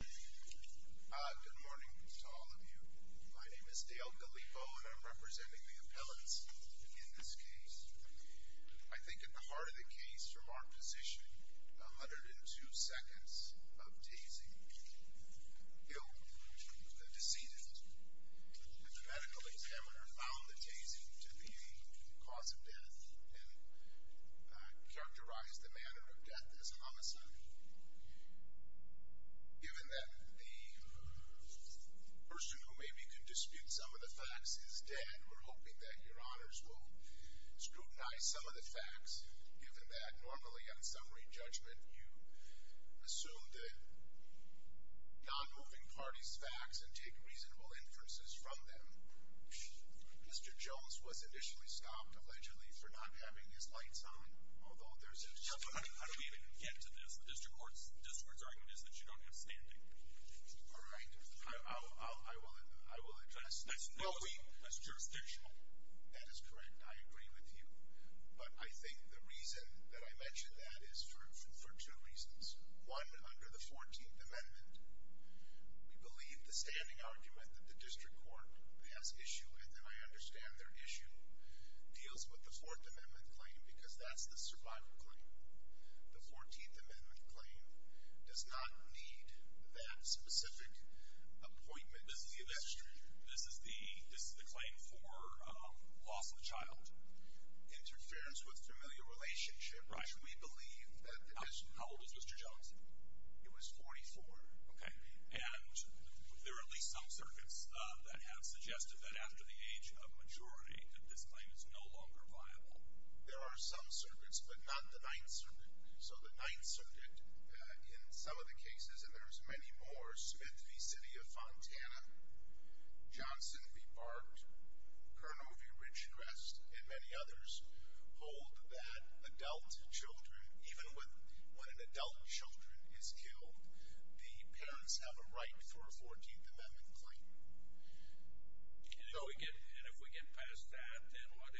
Good morning to all of you. My name is Dale Gallipo, and I'm representing the appellants in this case. I think at the heart of the case, from our position, 102 seconds of tasing killed the decedent. And the medical examiner found the tasing to be a cause of death and characterized the manner of death as homicide. Given that the person who maybe could dispute some of the facts is dead, we're hoping that your honors will scrutinize some of the facts, given that normally on summary judgment you assume the non-moving party's facts and take reasonable inferences from them. Mr. Jones was initially stopped, allegedly, for not having his lights on, although there's a disagreement. I don't even get to this. The district court's argument is that you don't have standing. All right. I will address that. That's not true. That's jurisdictional. That is correct. I agree with you. But I think the reason that I mention that is for two reasons. One, under the 14th Amendment, we believe the standing argument that the district court has issue with, and I understand their issue, deals with the Fourth Amendment claim because that's the survival claim. The 14th Amendment claim does not need that specific appointment. This is the claim for loss of a child. Interference with familiar relationship. Right. We believe that the district court. How old was Mr. Jones? He was 44. Okay. And there are at least some circuits that have suggested that after the age of maturity, that this claim is no longer viable. There are some circuits, but not the Ninth Circuit. So the Ninth Circuit, in some of the cases, and there's many more, Smith v. City of Fontana, Johnson v. Bart, Curnow v. Ridgecrest, and many others, hold that adult children, even when an adult children is killed, the parents have a right for a 14th Amendment claim. And if we get past that, then what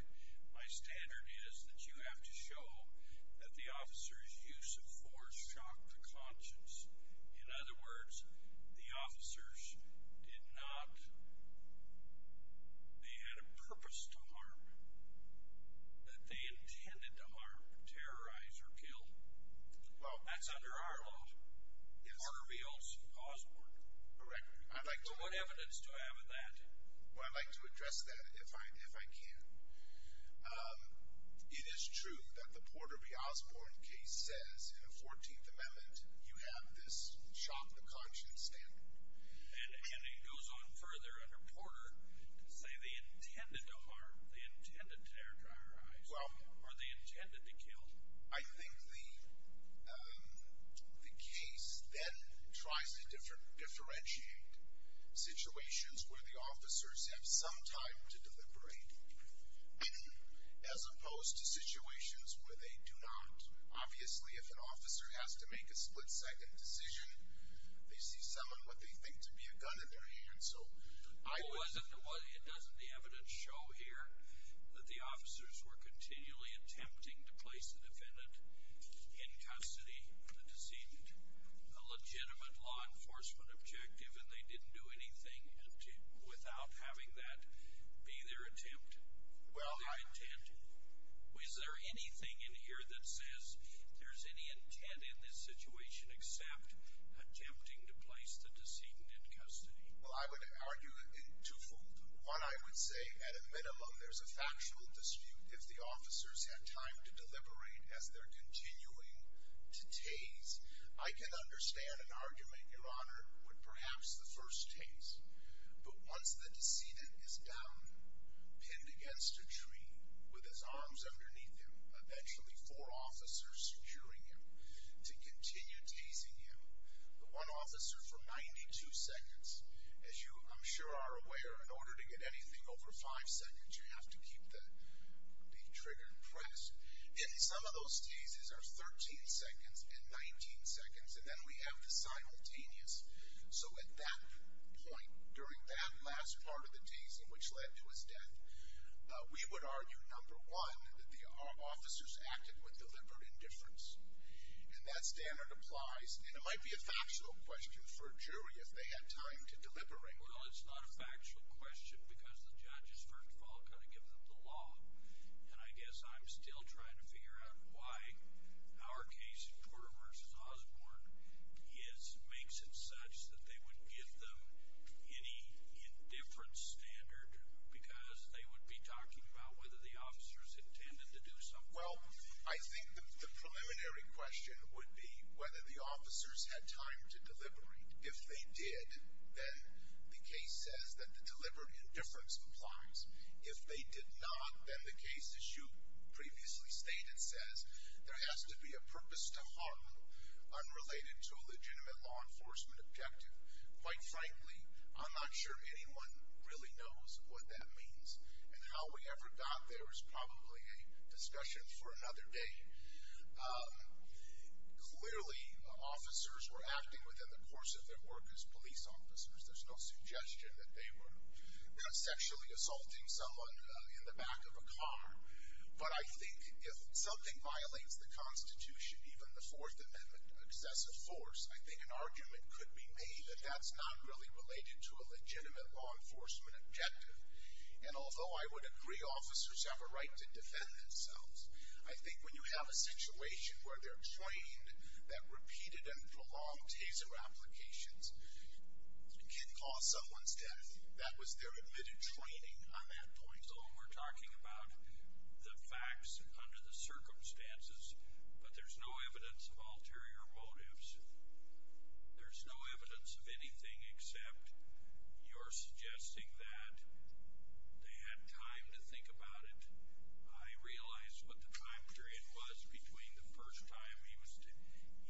my standard is that you have to show that the officer's use of force shocked the conscience. In other words, the officers did not, they had a purpose to harm, that they intended to harm, terrorize, or kill. Well, that's under our law. Yes. Or we also pause court. Correct. What evidence do I have of that? Well, I'd like to address that if I can. It is true that the Porter v. Osborne case says in a 14th Amendment, you have this shock the conscience standard. And it goes on further under Porter to say they intended to harm, I think the case then tries to differentiate situations where the officers have some time to deliberate, as opposed to situations where they do not. Obviously, if an officer has to make a split-second decision, they see someone with what they think to be a gun in their hand. Well, doesn't the evidence show here that the officers were continually attempting to place the defendant in custody, the decedent? A legitimate law enforcement objective, and they didn't do anything without having that be their intent? Is there anything in here that says there's any intent in this situation except attempting to place the decedent in custody? Well, I would argue it twofold. One, I would say at a minimum there's a factual dispute if the officers had time to deliberate as they're continuing to tase. I can understand an argument, Your Honor, with perhaps the first tase. But once the decedent is down, pinned against a tree, with his arms underneath him, eventually four officers securing him to continue tasing him, the one officer for 92 seconds. As you, I'm sure, are aware, in order to get anything over five seconds, you have to keep the trigger pressed. And some of those tases are 13 seconds and 19 seconds, and then we have the simultaneous. So at that point, during that last part of the tase, in which led to his death, we would argue, number one, that the officers acted with deliberate indifference. And that standard applies. And it might be a factual question for a jury if they had time to deliberate. Well, it's not a factual question because the judge has, first of all, got to give them the law. And I guess I'm still trying to figure out why our case, Porter v. Osborne, makes it such that they would give them any indifference standard because they would be talking about whether the officers intended to do something. Well, I think the preliminary question would be whether the officers had time to deliberate. If they did, then the case says that the deliberate indifference applies. If they did not, then the case, as you previously stated, says there has to be a purpose to harm unrelated to a legitimate law enforcement objective. Quite frankly, I'm not sure anyone really knows what that means. And how we ever got there is probably a discussion for another day. Clearly, officers were acting within the course of their work as police officers. There's no suggestion that they were sexually assaulting someone in the back of a car. But I think if something violates the Constitution, even the Fourth Amendment excessive force, I think an argument could be made that that's not really related to a legitimate law enforcement objective. And although I would agree officers have a right to defend themselves, I think when you have a situation where they're trained that repeated and prolonged TASER applications can cause someone's death, that was their admitted training on that point. So we're talking about the facts under the circumstances, but there's no evidence of ulterior motives. There's no evidence of anything except you're suggesting that they had time to think about it. I realize what the time period was between the first time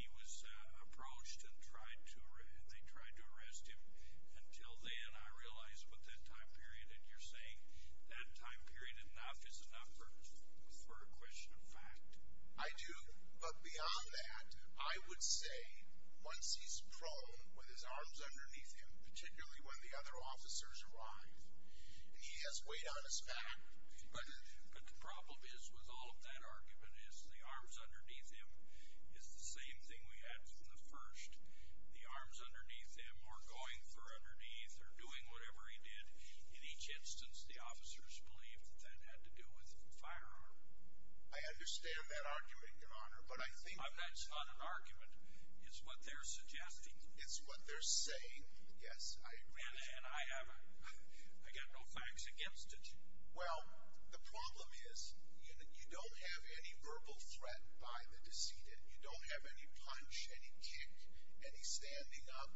he was approached and they tried to arrest him until then. I realize about that time period. And you're saying that time period enough is enough for a question of fact. I do. But beyond that, I would say once he's prone with his arms underneath him, particularly when the other officers arrive, and he has weight on his back. But the problem is with all of that argument is the arms underneath him is the same thing we had from the first. The arms underneath him are going for underneath or doing whatever he did. In each instance, the officers believed that that had to do with a firearm. I understand that argument, Your Honor, but I think— That's not an argument. It's what they're suggesting. It's what they're saying. Yes, I agree with you. And I have no facts against it. Well, the problem is you don't have any verbal threat by the deceited. You don't have any punch, any kick, any standing up.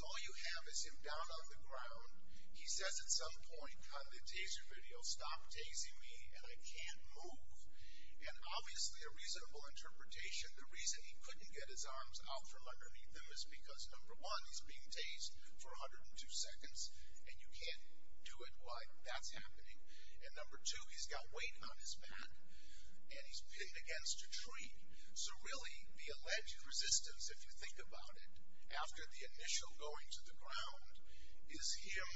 All you have is him down on the ground. He says at some point on the taser video, stop tasing me and I can't move. And obviously a reasonable interpretation, the reason he couldn't get his arms out from underneath him is because, number one, he's being tased for 102 seconds, and you can't do it while that's happening. And number two, he's got weight on his back, and he's pinned against a tree. So really the alleged resistance, if you think about it, after the initial going to the ground is him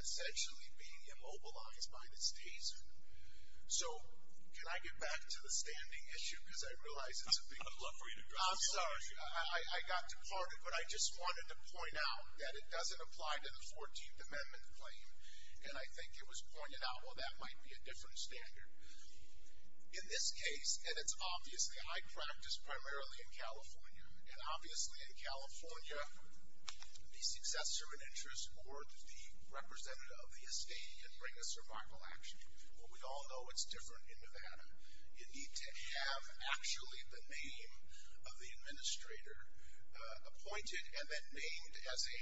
essentially being immobilized by this taser. So can I get back to the standing issue? Because I realize it's a big deal. I'm sorry. I got departed, but I just wanted to point out that it doesn't apply to the 14th Amendment claim, and I think it was pointed out, well, that might be a different standard. In this case, and it's obviously high practice, primarily in California, and obviously in California the successor in interest or the representative of the estate can bring a survival action. Well, we all know it's different in Nevada. You need to have actually the name of the administrator appointed and then named as a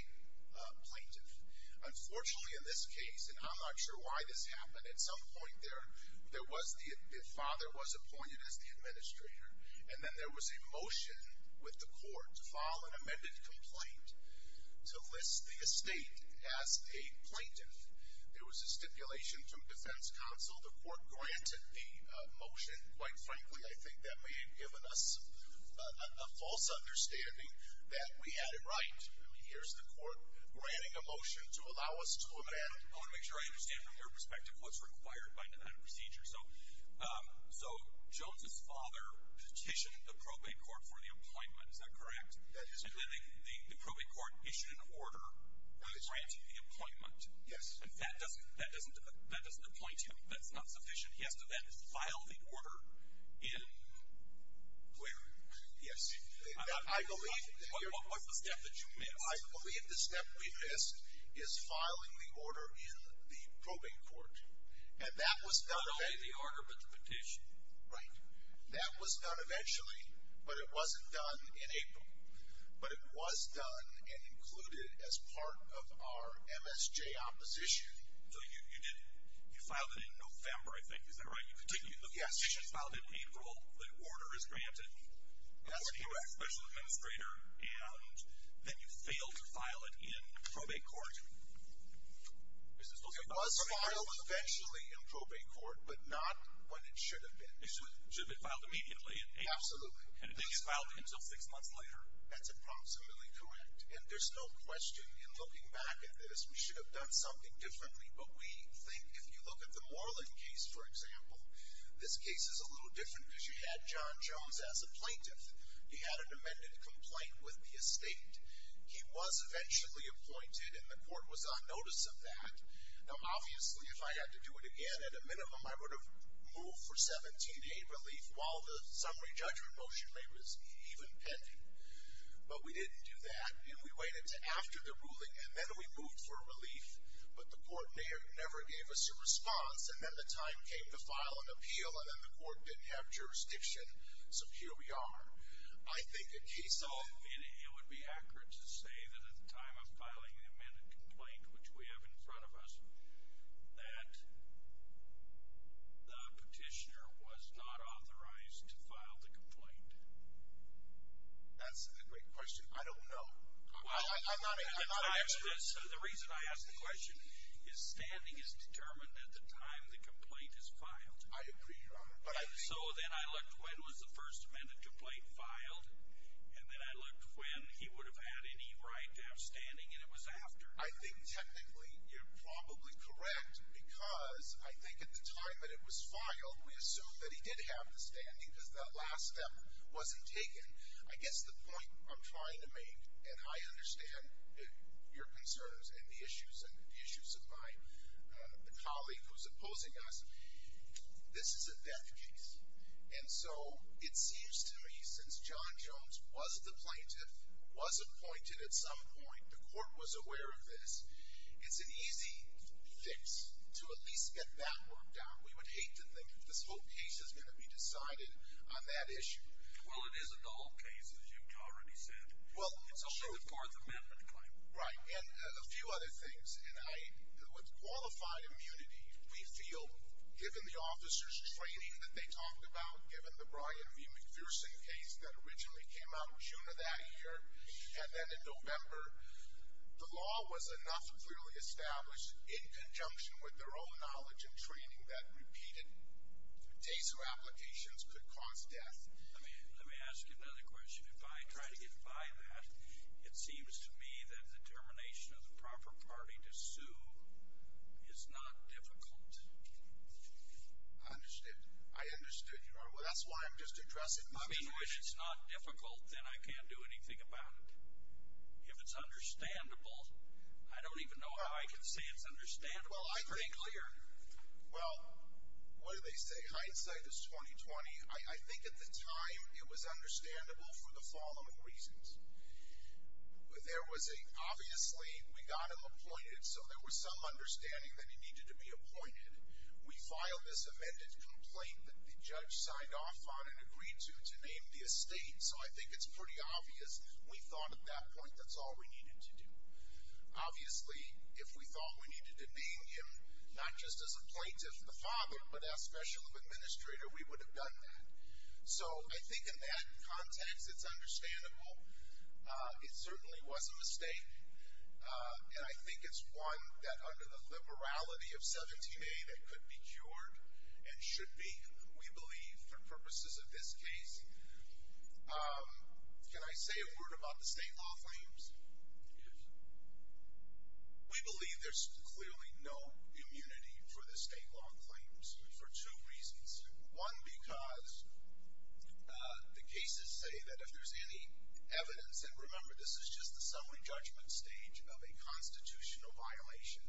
plaintiff. Unfortunately in this case, and I'm not sure why this happened, at some point the father was appointed as the administrator, and then there was a motion with the court to file an amended complaint to list the estate as a plaintiff. There was a stipulation from defense counsel. The court granted the motion. Quite frankly, I think that may have given us a false understanding that we had it right. Here's the court granting a motion to allow us to amend it. I want to make sure I understand from your perspective what's required by that procedure. So Jones's father petitioned the probate court for the appointment. Is that correct? That is correct. And then the probate court issued an order granting the appointment. Yes. And that doesn't appoint him. That's not sufficient. He has to then file the order in where? Yes. What's the step that you missed? I believe the step we missed is filing the order in the probate court, and that was done eventually. Not only the order, but the petition. Right. That was done eventually, but it wasn't done in April. But it was done and included as part of our MSJ opposition. So you did it. You filed it in November, I think. Is that right? Yes. The petition is filed in April. The order is granted. That's correct. That's a special administrator. And then you failed to file it in probate court. It was filed eventually in probate court, but not when it should have been. It should have been filed immediately in April. Absolutely. And it didn't get filed until six months later. That's approximately correct. And there's no question in looking back at this, we should have done something differently. But we think if you look at the Moreland case, for example, this case is a little different because you had John Jones as a plaintiff. He had an amended complaint with the estate. He was eventually appointed, and the court was on notice of that. Now, obviously, if I had to do it again, at a minimum I would have moved for 17A relief, while the summary judgment motion was even pending. But we didn't do that, and we waited until after the ruling, and then we moved for relief. But the court never gave us a response. And then the time came to file an appeal, and then the court didn't have jurisdiction, so here we are. I think a case of 17A would be accurate to say that at the time of filing the amended complaint, which we have in front of us, that the petitioner was not authorized to file the complaint. That's a great question. I don't know. I'm not an expert. The reason I ask the question is standing is determined at the time the complaint is filed. I agree, Your Honor. So then I looked when was the first amended complaint filed, and then I looked when he would have had any right to have standing, and it was after. I think technically you're probably correct, because I think at the time that it was filed, we assumed that he did have the standing, because that last step wasn't taken. I guess the point I'm trying to make, and I understand your concerns and the issues of my colleague who's opposing us, this is a death case. And so it seems to me since John Jones was the plaintiff, was appointed at some point, the court was aware of this, it's an easy fix to at least get that worked out. We would hate to think that this whole case is going to be decided on that issue. Well, it isn't all cases, you've already said. It's only the fourth amendment claim. Right, and a few other things. With qualified immunity, we feel, given the officer's training that they talked about, given the Brian V. Juneau that year, and then in November, the law was enough clearly established in conjunction with their own knowledge and training that repeated TASU applications could cause death. Let me ask you another question. If I try to get by that, it seems to me that the termination of the proper party to sue is not difficult. I understood. I understood. Well, that's why I'm just addressing money. If it's not difficult, then I can't do anything about it. If it's understandable, I don't even know how I can say it's understandable. Well, what do they say? Hindsight is 20-20. I think at the time it was understandable for the following reasons. There was a, obviously, we got him appointed, so there was some understanding that he needed to be appointed. We filed this amended complaint that the judge signed off on and agreed to name the estate, so I think it's pretty obvious we thought at that point that's all we needed to do. Obviously, if we thought we needed to name him not just as a plaintiff, the father, but as special administrator, we would have done that. So I think in that context it's understandable. It certainly was a mistake, and I think it's one that under the morality of 17A that could be cured and should be. We believe, for purposes of this case, can I say a word about the state law claims? Yes. We believe there's clearly no immunity for the state law claims for two reasons. One, because the cases say that if there's any evidence, and remember this is just the summary judgment stage of a constitutional violation,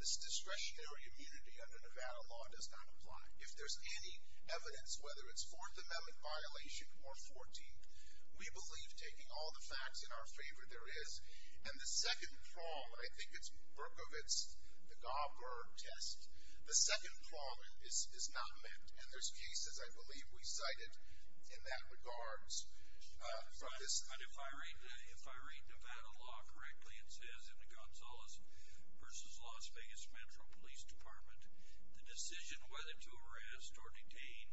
this discretionary immunity under Nevada law does not apply. If there's any evidence, whether it's Fourth Amendment violation or 14th, we believe taking all the facts in our favor there is. And the second flaw, and I think it's Berkovitz, the Gauber test, the second flaw is not met. And there's cases, I believe, we cited in that regards. If I read Nevada law correctly, it says in the Gonzalez v. Las Vegas Metro Police Department, the decision whether to arrest or detain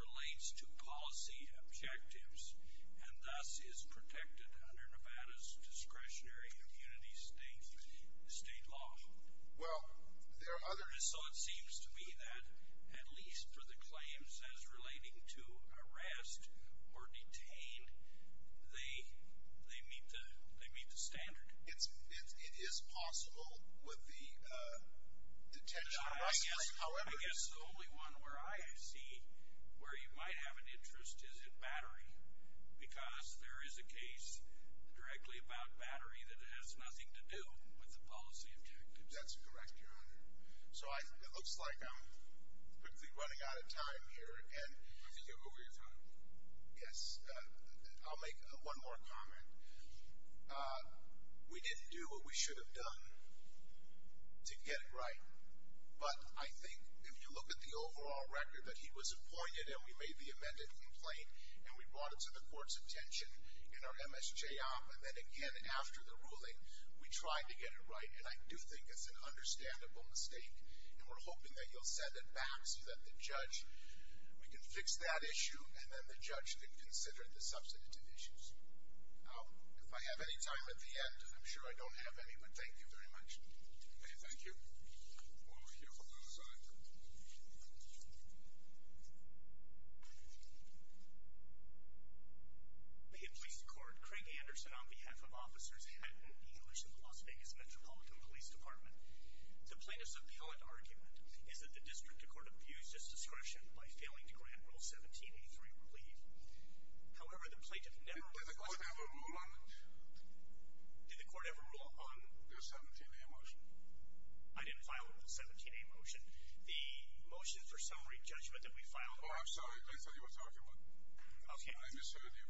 relates to policy objectives and thus is protected under Nevada's discretionary immunity state law. So it seems to me that at least for the claims as relating to arrest or detain, they meet the standard. It is possible with the detention. I guess the only one where I see where you might have an interest is in battery because there is a case directly about battery that has nothing to do with the policy objectives. That's correct, Your Honor. So it looks like I'm quickly running out of time here. I think you're over your time. Yes. I'll make one more comment. We didn't do what we should have done to get it right, but I think if you look at the overall record, that he was appointed and we made the amended complaint and we brought it to the court's attention in our MSJ op, and then again after the ruling, we tried to get it right. And I do think it's an understandable mistake, and we're hoping that you'll send it back so that the judge, we can fix that issue and then the judge can consider the substantive issues. If I have any time at the end, and I'm sure I don't have any, but thank you very much. Thank you. We'll hear from the other side. In police court, Craig Anderson on behalf of Officers Haddon English of the Las Vegas Metropolitan Police Department. The plaintiff's appellate argument is that the district court abused its discretion by failing to grant Rule 17A3 relief. However, the plaintiff never ruled. Did the court ever rule on the 17A motion? I didn't file a 17A motion. The motion for summary judgment that we filed. Oh, I'm sorry. Let me tell you what's the argument. Okay. I misheard you.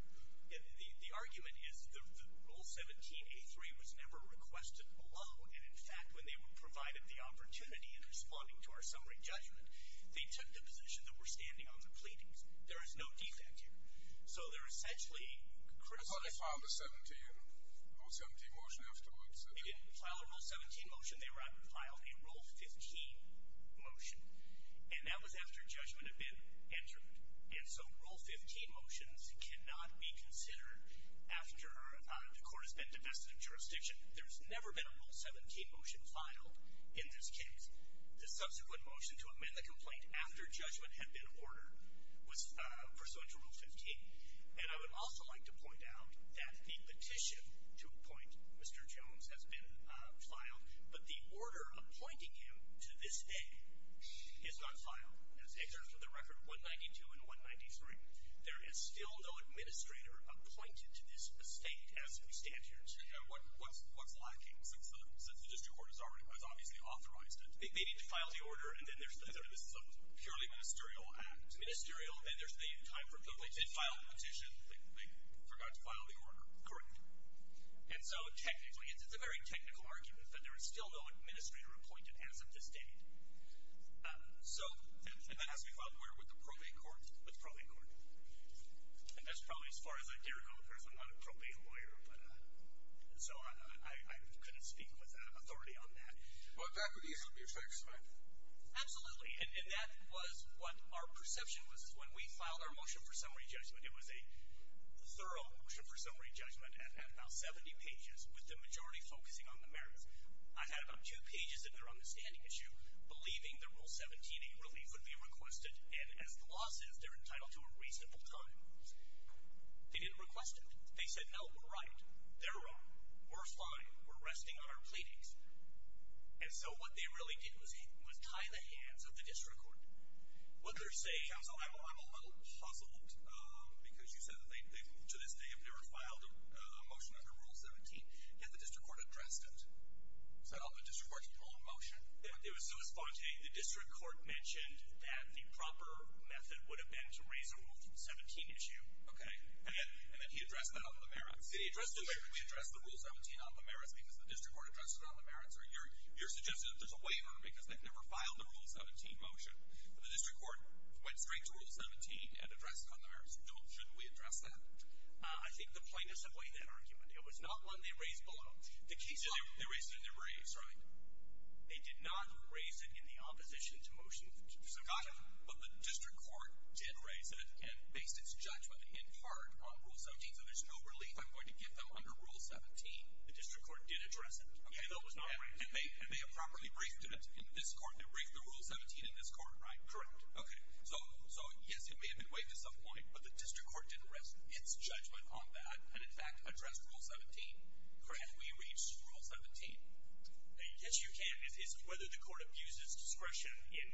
The argument is that Rule 17A3 was never requested below, and in fact when they were provided the opportunity in responding to our summary judgment, they took the position that we're standing on the pleadings. There is no defect here. So they're essentially criticizing. I thought they filed a Rule 17 motion afterwards. They didn't file a Rule 17 motion. They filed a Rule 15 motion, and that was after judgment had been entered. And so Rule 15 motions cannot be considered after the court has been divested of jurisdiction. There's never been a Rule 17 motion filed in this case. The subsequent motion to amend the complaint after judgment had been ordered was pursuant to Rule 15. And I would also like to point out that the petition to appoint Mr. Jones has been filed, but the order appointing him to this day is not filed. And it's exercised with the record 192 and 193. There is still no administrator appointed to this estate as we stand here today. What's lacking? Since the district court has obviously authorized it, they need to file the order, and then there's the purely ministerial act. Ministerial, then there's the time for it. They did file the petition. They forgot to file the order. Correct. And so technically it's a very technical argument that there is still no administrator appointed as of this date. And that has to be filed where? With the probate court? With the probate court. And that's probably as far as I dare go, because I'm not a probate lawyer. And so I couldn't speak with authority on that. But that would easily be a fix, right? Absolutely. And that was what our perception was when we filed our motion for summary judgment. It was a thorough motion for summary judgment at about 70 pages, with the majority focusing on the merits. I had about two pages in there on the standing issue, believing that Rule 17, a relief, would be requested. And as the law says, they're entitled to a reasonable time. They didn't request it. They said, no, we're right. They're wrong. We're fine. We're resting on our pleadings. And so what they really did was tie the hands of the district court. What they're saying, counsel, I'm a little puzzled, because you said that they, to this day, have never filed a motion under Rule 17. Yet the district court addressed it. So the district court's own motion? It was so spontaneous. The district court mentioned that the proper method would have been to raise a Rule 17 issue. Okay. And then he addressed that on the merits. He addressed it later. We addressed the Rule 17 on the merits because the district court addressed it on the merits. Or you're suggesting that there's a waiver because they've never filed a Rule 17 motion. The district court went straight to Rule 17 and addressed it on the merits. Shouldn't we address that? I think the plaintiffs have weighed that argument. It was not one they raised below. They raised it in their briefs, right? They did not raise it in the opposition to motions. Got it. But the district court did raise it and based its judgment in part on Rule 17. So there's no relief I'm going to give them under Rule 17. The district court did address it. Okay, though it was not raised. And they improperly briefed it in this court. They briefed the Rule 17 in this court. Right. Correct. Okay. So, yes, it may have been waived at some point, but the district court didn't raise its judgment on that and, in fact, addressed Rule 17. Correct? We reached Rule 17. Yes, you can. It's whether the court abuses discretion in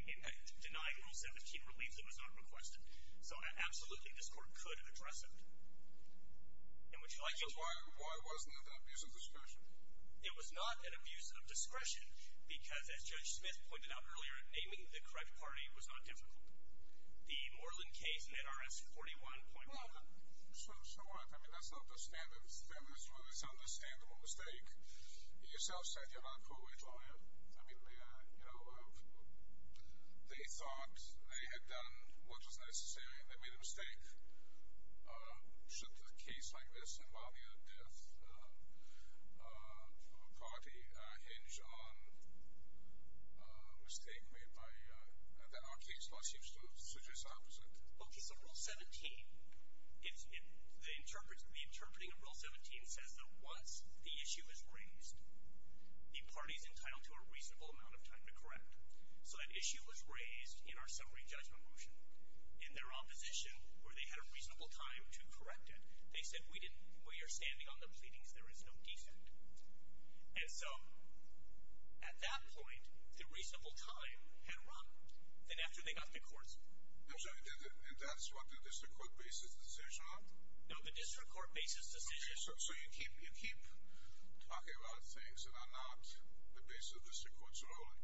denying Rule 17 relief that was not requested. So, absolutely, this court could have addressed it. And would you like me to? Why wasn't it an abuse of discretion? It was not an abuse of discretion because, as Judge Smith pointed out earlier, naming the correct party was not difficult. The Moreland case in NRS 41.1. Well, so what? I mean, that's not the standard. That was really an understandable mistake. You yourself said you're not a court rate lawyer. I mean, you know, they thought they had done what was necessary, and they made a mistake. Should a case like this involving a death of a party hinge on a mistake made by NRK? So that seems to suggest the opposite. Okay, so Rule 17, the interpreting of Rule 17 says that once the issue is raised, the party is entitled to a reasonable amount of time to correct. So that issue was raised in our summary judgment motion. In their opposition, where they had a reasonable time to correct it, they said, well, you're standing on the pleadings. There is no defect. And so, at that point, the reasonable time had run. Then after they got to court. And that's what the district court basis decision on? No, the district court basis decision. So you keep talking about things that are not the basis of the district court's ruling.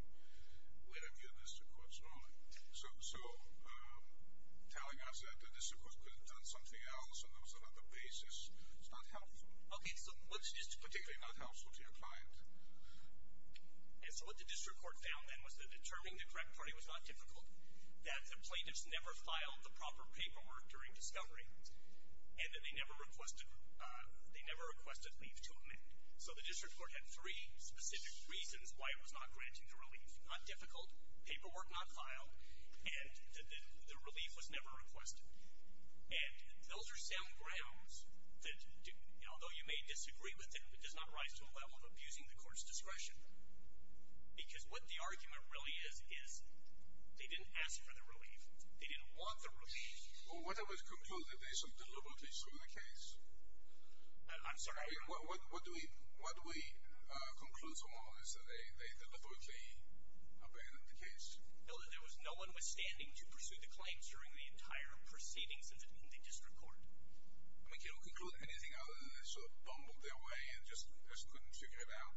We review the district court's ruling. So telling us that the district court could have done something else and there was another basis is not helpful. Okay, so what's particularly not helpful to your client? So what the district court found then was that determining the correct party was not difficult, that the plaintiffs never filed the proper paperwork during discovery, and that they never requested leave to amend. So the district court had three specific reasons why it was not granting the relief. Not difficult, paperwork not filed, and the relief was never requested. And those are sound grounds that, although you may disagree with it, it does not rise to a level of abusing the court's discretion. Because what the argument really is is they didn't ask for the relief. They didn't want the relief. Well, what are we to conclude? That there is some deliberate issue in the case? I'm sorry? What do we conclude from all this? That they deliberately abandoned the case? No, that there was no one withstanding to pursue the claims during the entire proceedings of the district court. I mean, can you conclude anything other than they sort of bumbled their way and just couldn't figure it out?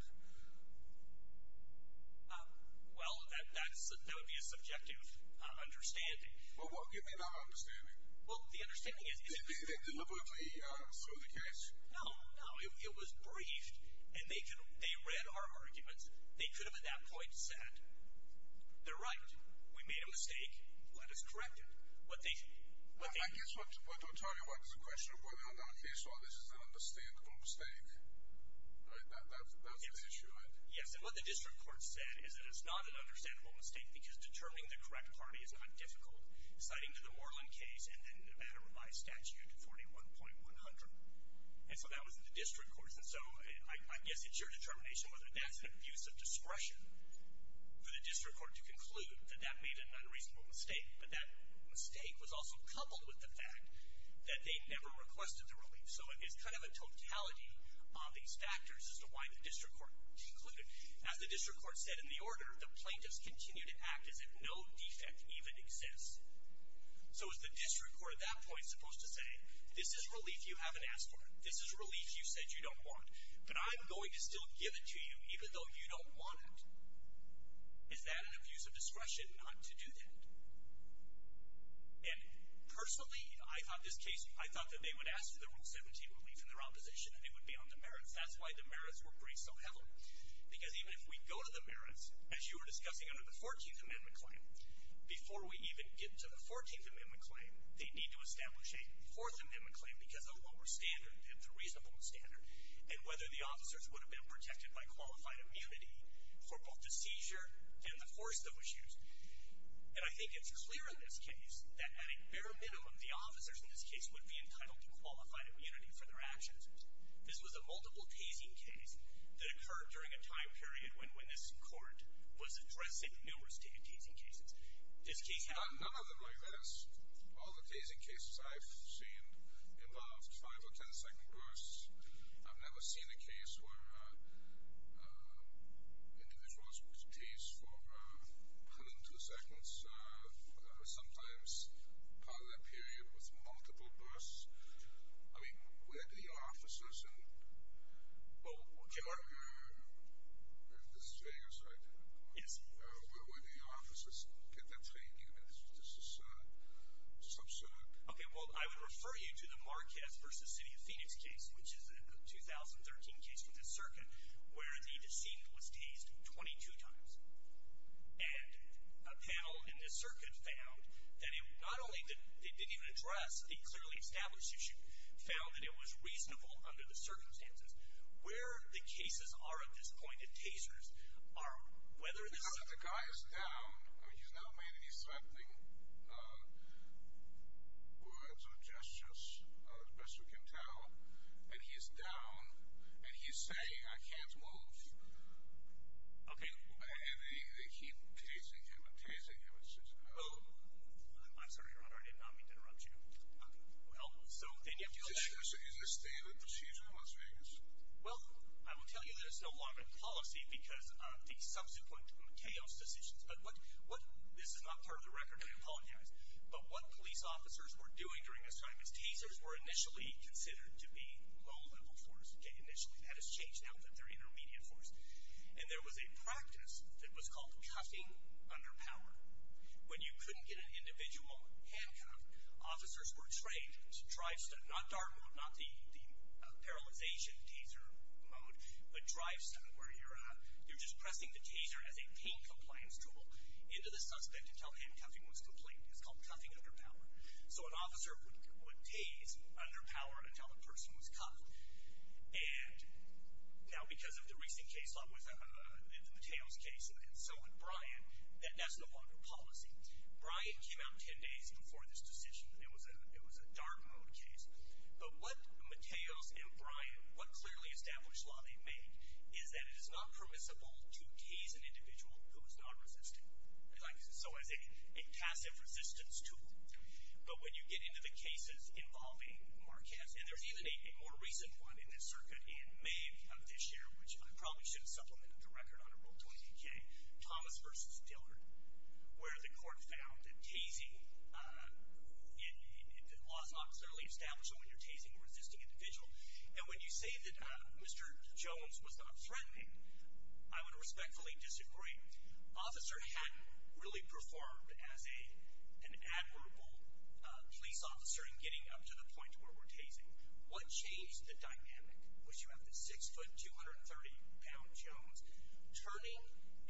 Well, that would be a subjective understanding. Well, what do you mean, not understanding? Well, the understanding is they deliberately threw the case. No, no. It was briefed, and they read our arguments. They could have at that point said, they're right, we made a mistake, let us correct it. I guess what we're talking about is the question of whether or not a case like this is an understandable mistake. That's the issue, right? Yes, and what the district court said is that it's not an understandable mistake because determining the correct party is not difficult, citing to the Moreland case and then Nevada Revised Statute 41.100. And so that was the district court's. And so I guess it's your determination whether that's an abuse of discretion for the district court to conclude that that made an unreasonable mistake. But that mistake was also coupled with the fact that they never requested the relief. So it's kind of a totality of these factors as to why the district court concluded. As the district court said in the order, the plaintiffs continue to act as if no defect even exists. So is the district court at that point supposed to say, this is relief you haven't asked for, this is relief you said you don't want, but I'm going to still give it to you even though you don't want it. Is that an abuse of discretion not to do that? And personally, I thought this case, I thought that they would ask for the Rule 17 relief in their opposition and they would be on the merits. That's why the merits were braced so heavily. Because even if we go to the merits, as you were discussing under the 14th Amendment claim, before we even get to the 14th Amendment claim, they need to establish a 4th Amendment claim because of the lower standard, the reasonable standard, and whether the officers would have been protected by qualified immunity for both the seizure and the force that was used. And I think it's clear in this case that at a bare minimum, the officers in this case would be entitled to qualified immunity for their actions. This was a multiple tasing case that occurred during a time period when this court was addressing numerous tasing cases. None of them like this. All the tasing cases I've seen involved 5 or 10-second bursts. I've never seen a case where individuals were tased for hundreds of seconds or sometimes part of that period with multiple bursts. I mean, where do the officers get their training? This is absurd. Okay, well, I would refer you to the Marquez v. City of Phoenix case, which is a 2013 case with the circuit, where the deceived was tased 22 times. And a panel in the circuit found that not only did they not even address the clearly established issue, found that it was reasonable under the circumstances. Where the cases are at this point, the tasers, are whether this – The guy is down. I mean, he's not made any threatening words or gestures, as best we can tell. And he's down. And he's saying, I can't move. Okay. And they keep tasing him and tasing him. I'm sorry, Your Honor, I did not mean to interrupt you. Well, so then you have to go back. Is this standard procedure in Las Vegas? Well, I will tell you that it's no longer in policy because of the subsequent chaos decisions. But what – this is not part of the record, and I apologize. But what police officers were doing during this time is tasers were initially considered to be low-level force. Okay, initially. That has changed now that they're intermediate force. And there was a practice that was called cuffing under power. When you couldn't get an individual handcuffed, officers were trained to drive stunt. Not dark mode, not the paralyzation taser mode, but drive stunt where you're just pressing the taser as a pain compliance tool into the suspect until handcuffing was complete. It's called cuffing under power. So an officer would tase under power until a person was cuffed. And now because of the recent case law in the Mateos case, and so would Bryan, that's no longer policy. Bryan came out ten days before this decision. It was a dark mode case. But what Mateos and Bryan, what clearly established law they've made is that it is not permissible to tase an individual who is not resisting. So as a passive resistance tool. But when you get into the cases involving Marquez, and there's even a more recent one in this circuit in May of this year, which I probably should have supplemented the record on in Rule 20-K, Thomas versus Dillard, where the court found that tasing, the law is not necessarily established that when you're tasing a resisting individual. And when you say that Mr. Jones was not threatening, I would respectfully disagree. Officer hadn't really performed as an admirable police officer in getting up to the point where we're tasing. What changed the dynamic was you have the 6'230 pound Jones turning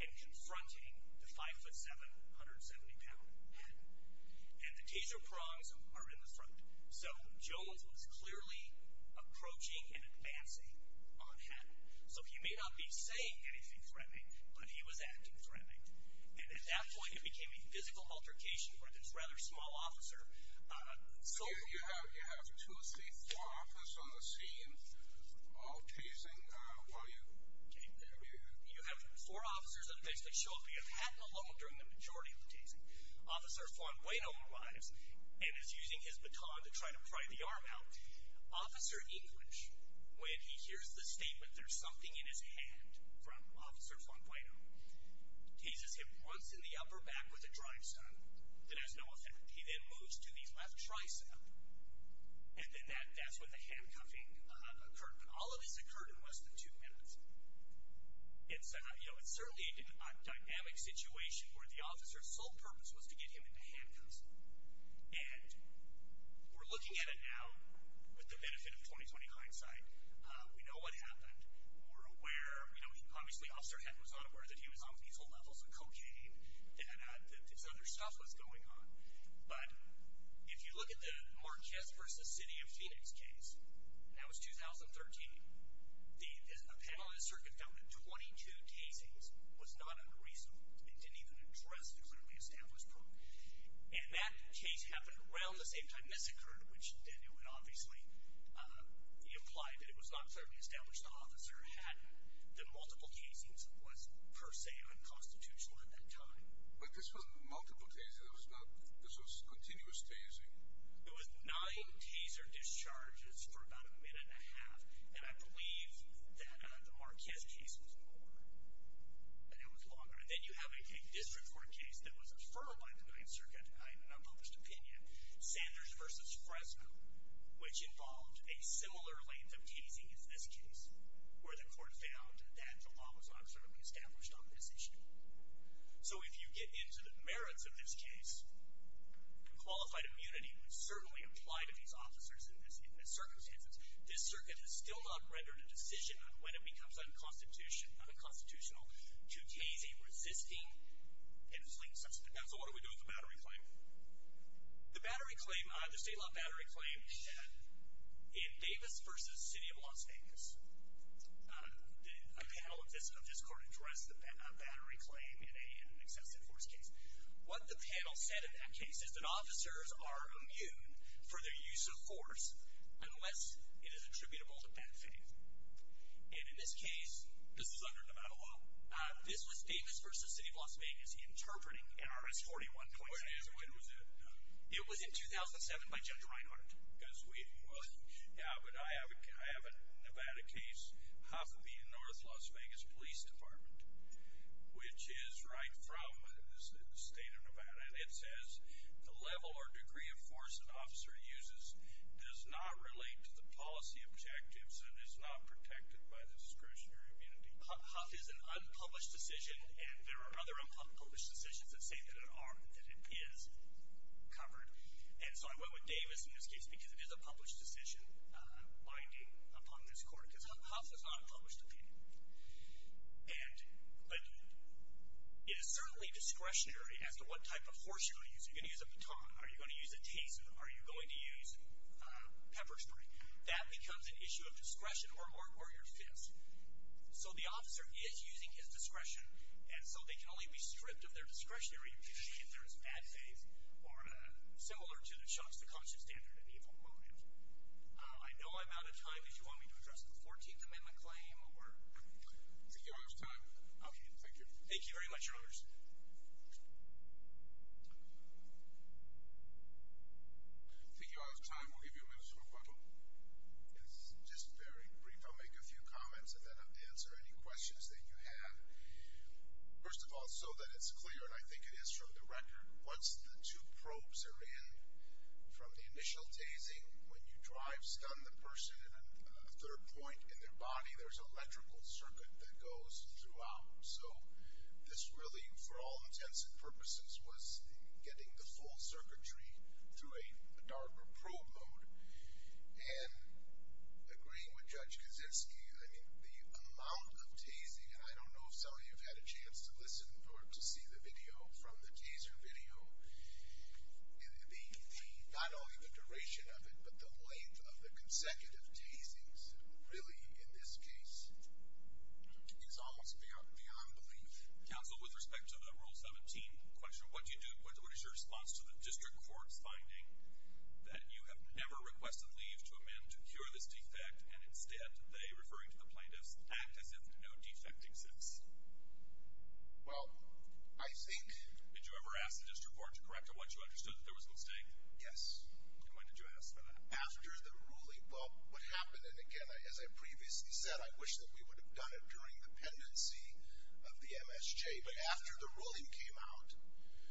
and confronting the 5'7", 170 pound Hatton. And the taser prongs are in the front. So Jones was clearly approaching and advancing on Hatton. So he may not be saying anything threatening, but he was acting threatening. And at that point it became a physical altercation with this rather small officer. So you have two or three, four officers on the scene all tasing while you're there. You have four officers that show up, you have Hatton alone during the majority of the tasing. Officer Fonbueno arrives and is using his baton to try to pry the arm out. Officer English, when he hears the statement, there's something in his hand from Officer Fonbueno, teases him once in the upper back with a tricep that has no effect. He then moves to the left tricep, and then that's when the handcuffing occurred. But all of this occurred in less than two minutes. It's certainly a dynamic situation where the officer's sole purpose was to get him into handcuffs. And we're looking at it now with the benefit of 20-20 hindsight. We know what happened. Obviously Officer Hatton was not aware that he was on these whole levels of cocaine and that this other stuff was going on. But if you look at the Marquez v. City of Phoenix case, and that was 2013, a panel in the circuit found that 22 tasings was not unreasonable and didn't even address the clearly established problem. And that case happened around the same time this occurred, which then would obviously imply that it was not clearly established that Officer Hatton, that multiple casings was per se unconstitutional at that time. But this was multiple tasers. This was continuous tasing. It was nine taser discharges for about a minute and a half, and I believe that the Marquez case was longer. And it was longer. And then you have a district court case that was deferred by the 9th Circuit in an unpublished opinion. Sanders v. Fresno, which involved a similar length of tasing as this case, where the court found that the law was not clearly established on this issue. So if you get into the merits of this case, qualified immunity would certainly apply to these officers in this circumstance. This circuit has still not rendered a decision on when it becomes unconstitutional to tase a resisting and fleeing suspect. Now, so what do we do with the battery claim? The state law battery claim, in Davis v. City of Las Vegas, a panel of this court addressed the battery claim in an excessive force case. What the panel said in that case is that officers are immune for their use of force unless it is attributable to bad faith. And in this case, this is under Nevada law, this was Davis v. City of Las Vegas interpreting NRS 41.6. When was it? It was in 2007 by Judge Reinhardt. Yeah, but I have a Nevada case, Huff v. North Las Vegas Police Department, which is right from the state of Nevada, and it says the level or degree of force an officer uses does not relate to the policy objectives and is not protected by discretionary immunity. Huff is an unpublished decision, and there are other unpublished decisions that say that it is covered. And so I went with Davis in this case because it is a published decision binding upon this court, because Huff is not a published opinion. But it is certainly discretionary as to what type of force you're going to use. Are you going to use a baton? Are you going to use a taser? Are you going to use pepper spray? That becomes an issue of discretion or your fists. So the officer is using his discretion, and so they can only be stripped of their discretionary immunity if there is bad faith or similar to Chuck's, the conscious, standard, and evil moment. I know I'm out of time. If you want me to address the 14th Amendment claim or... I think you're out of time. Okay. Thank you. Thank you very much, Your Honors. I think you're out of time. We'll give you a minute or so to buckle. It's just very brief. I'll make a few comments and then I'll answer any questions that you have. First of all, so that it's clear, and I think it is for the record, once the two probes are in, from the initial tasing, when you drive-stun the person in a third point in their body, there's an electrical circuit that goes throughout. So this really, for all intents and purposes, was getting the full circuitry through a darker probe mode. And agreeing with Judge Kaczynski, I mean, the amount of tasing, and I don't know if some of you have had a chance to listen or to see the video from the taser video, and not only the duration of it, but the length of the consecutive tasings really in this case is almost beyond belief. Counsel, with respect to the Rule 17 question, what is your response to the district court's finding that you have never requested leave to a man to cure this defect, and instead they, referring to the plaintiffs, act as if no defect exists? Well, I think... Did you ever ask the district court to correct a watch who understood that there was a mistake? Yes. And when did you ask for that? After the ruling. Well, what happened, and again, as I previously said, I wish that we would have done it during the pendency of the MSJ, but after the ruling came out...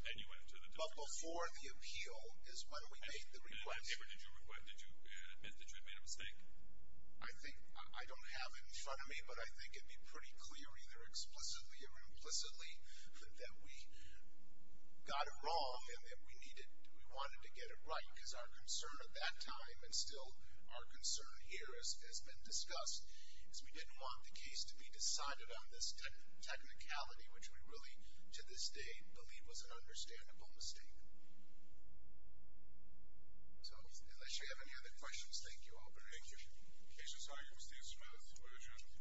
Then you went to the district court. But before the appeal is when we make the request. And did you admit that you had made a mistake? I don't have it in front of me, but I think it would be pretty clear either explicitly or implicitly that we got it wrong and that we wanted to get it right, because our concern at that time, and still our concern here as has been discussed, is we didn't want the case to be decided on this technicality, which we really, to this day, believe was an understandable mistake. So, unless you have any other questions, thank you all very much. Thank you. Case is argued. Steve Smith, lawyer general.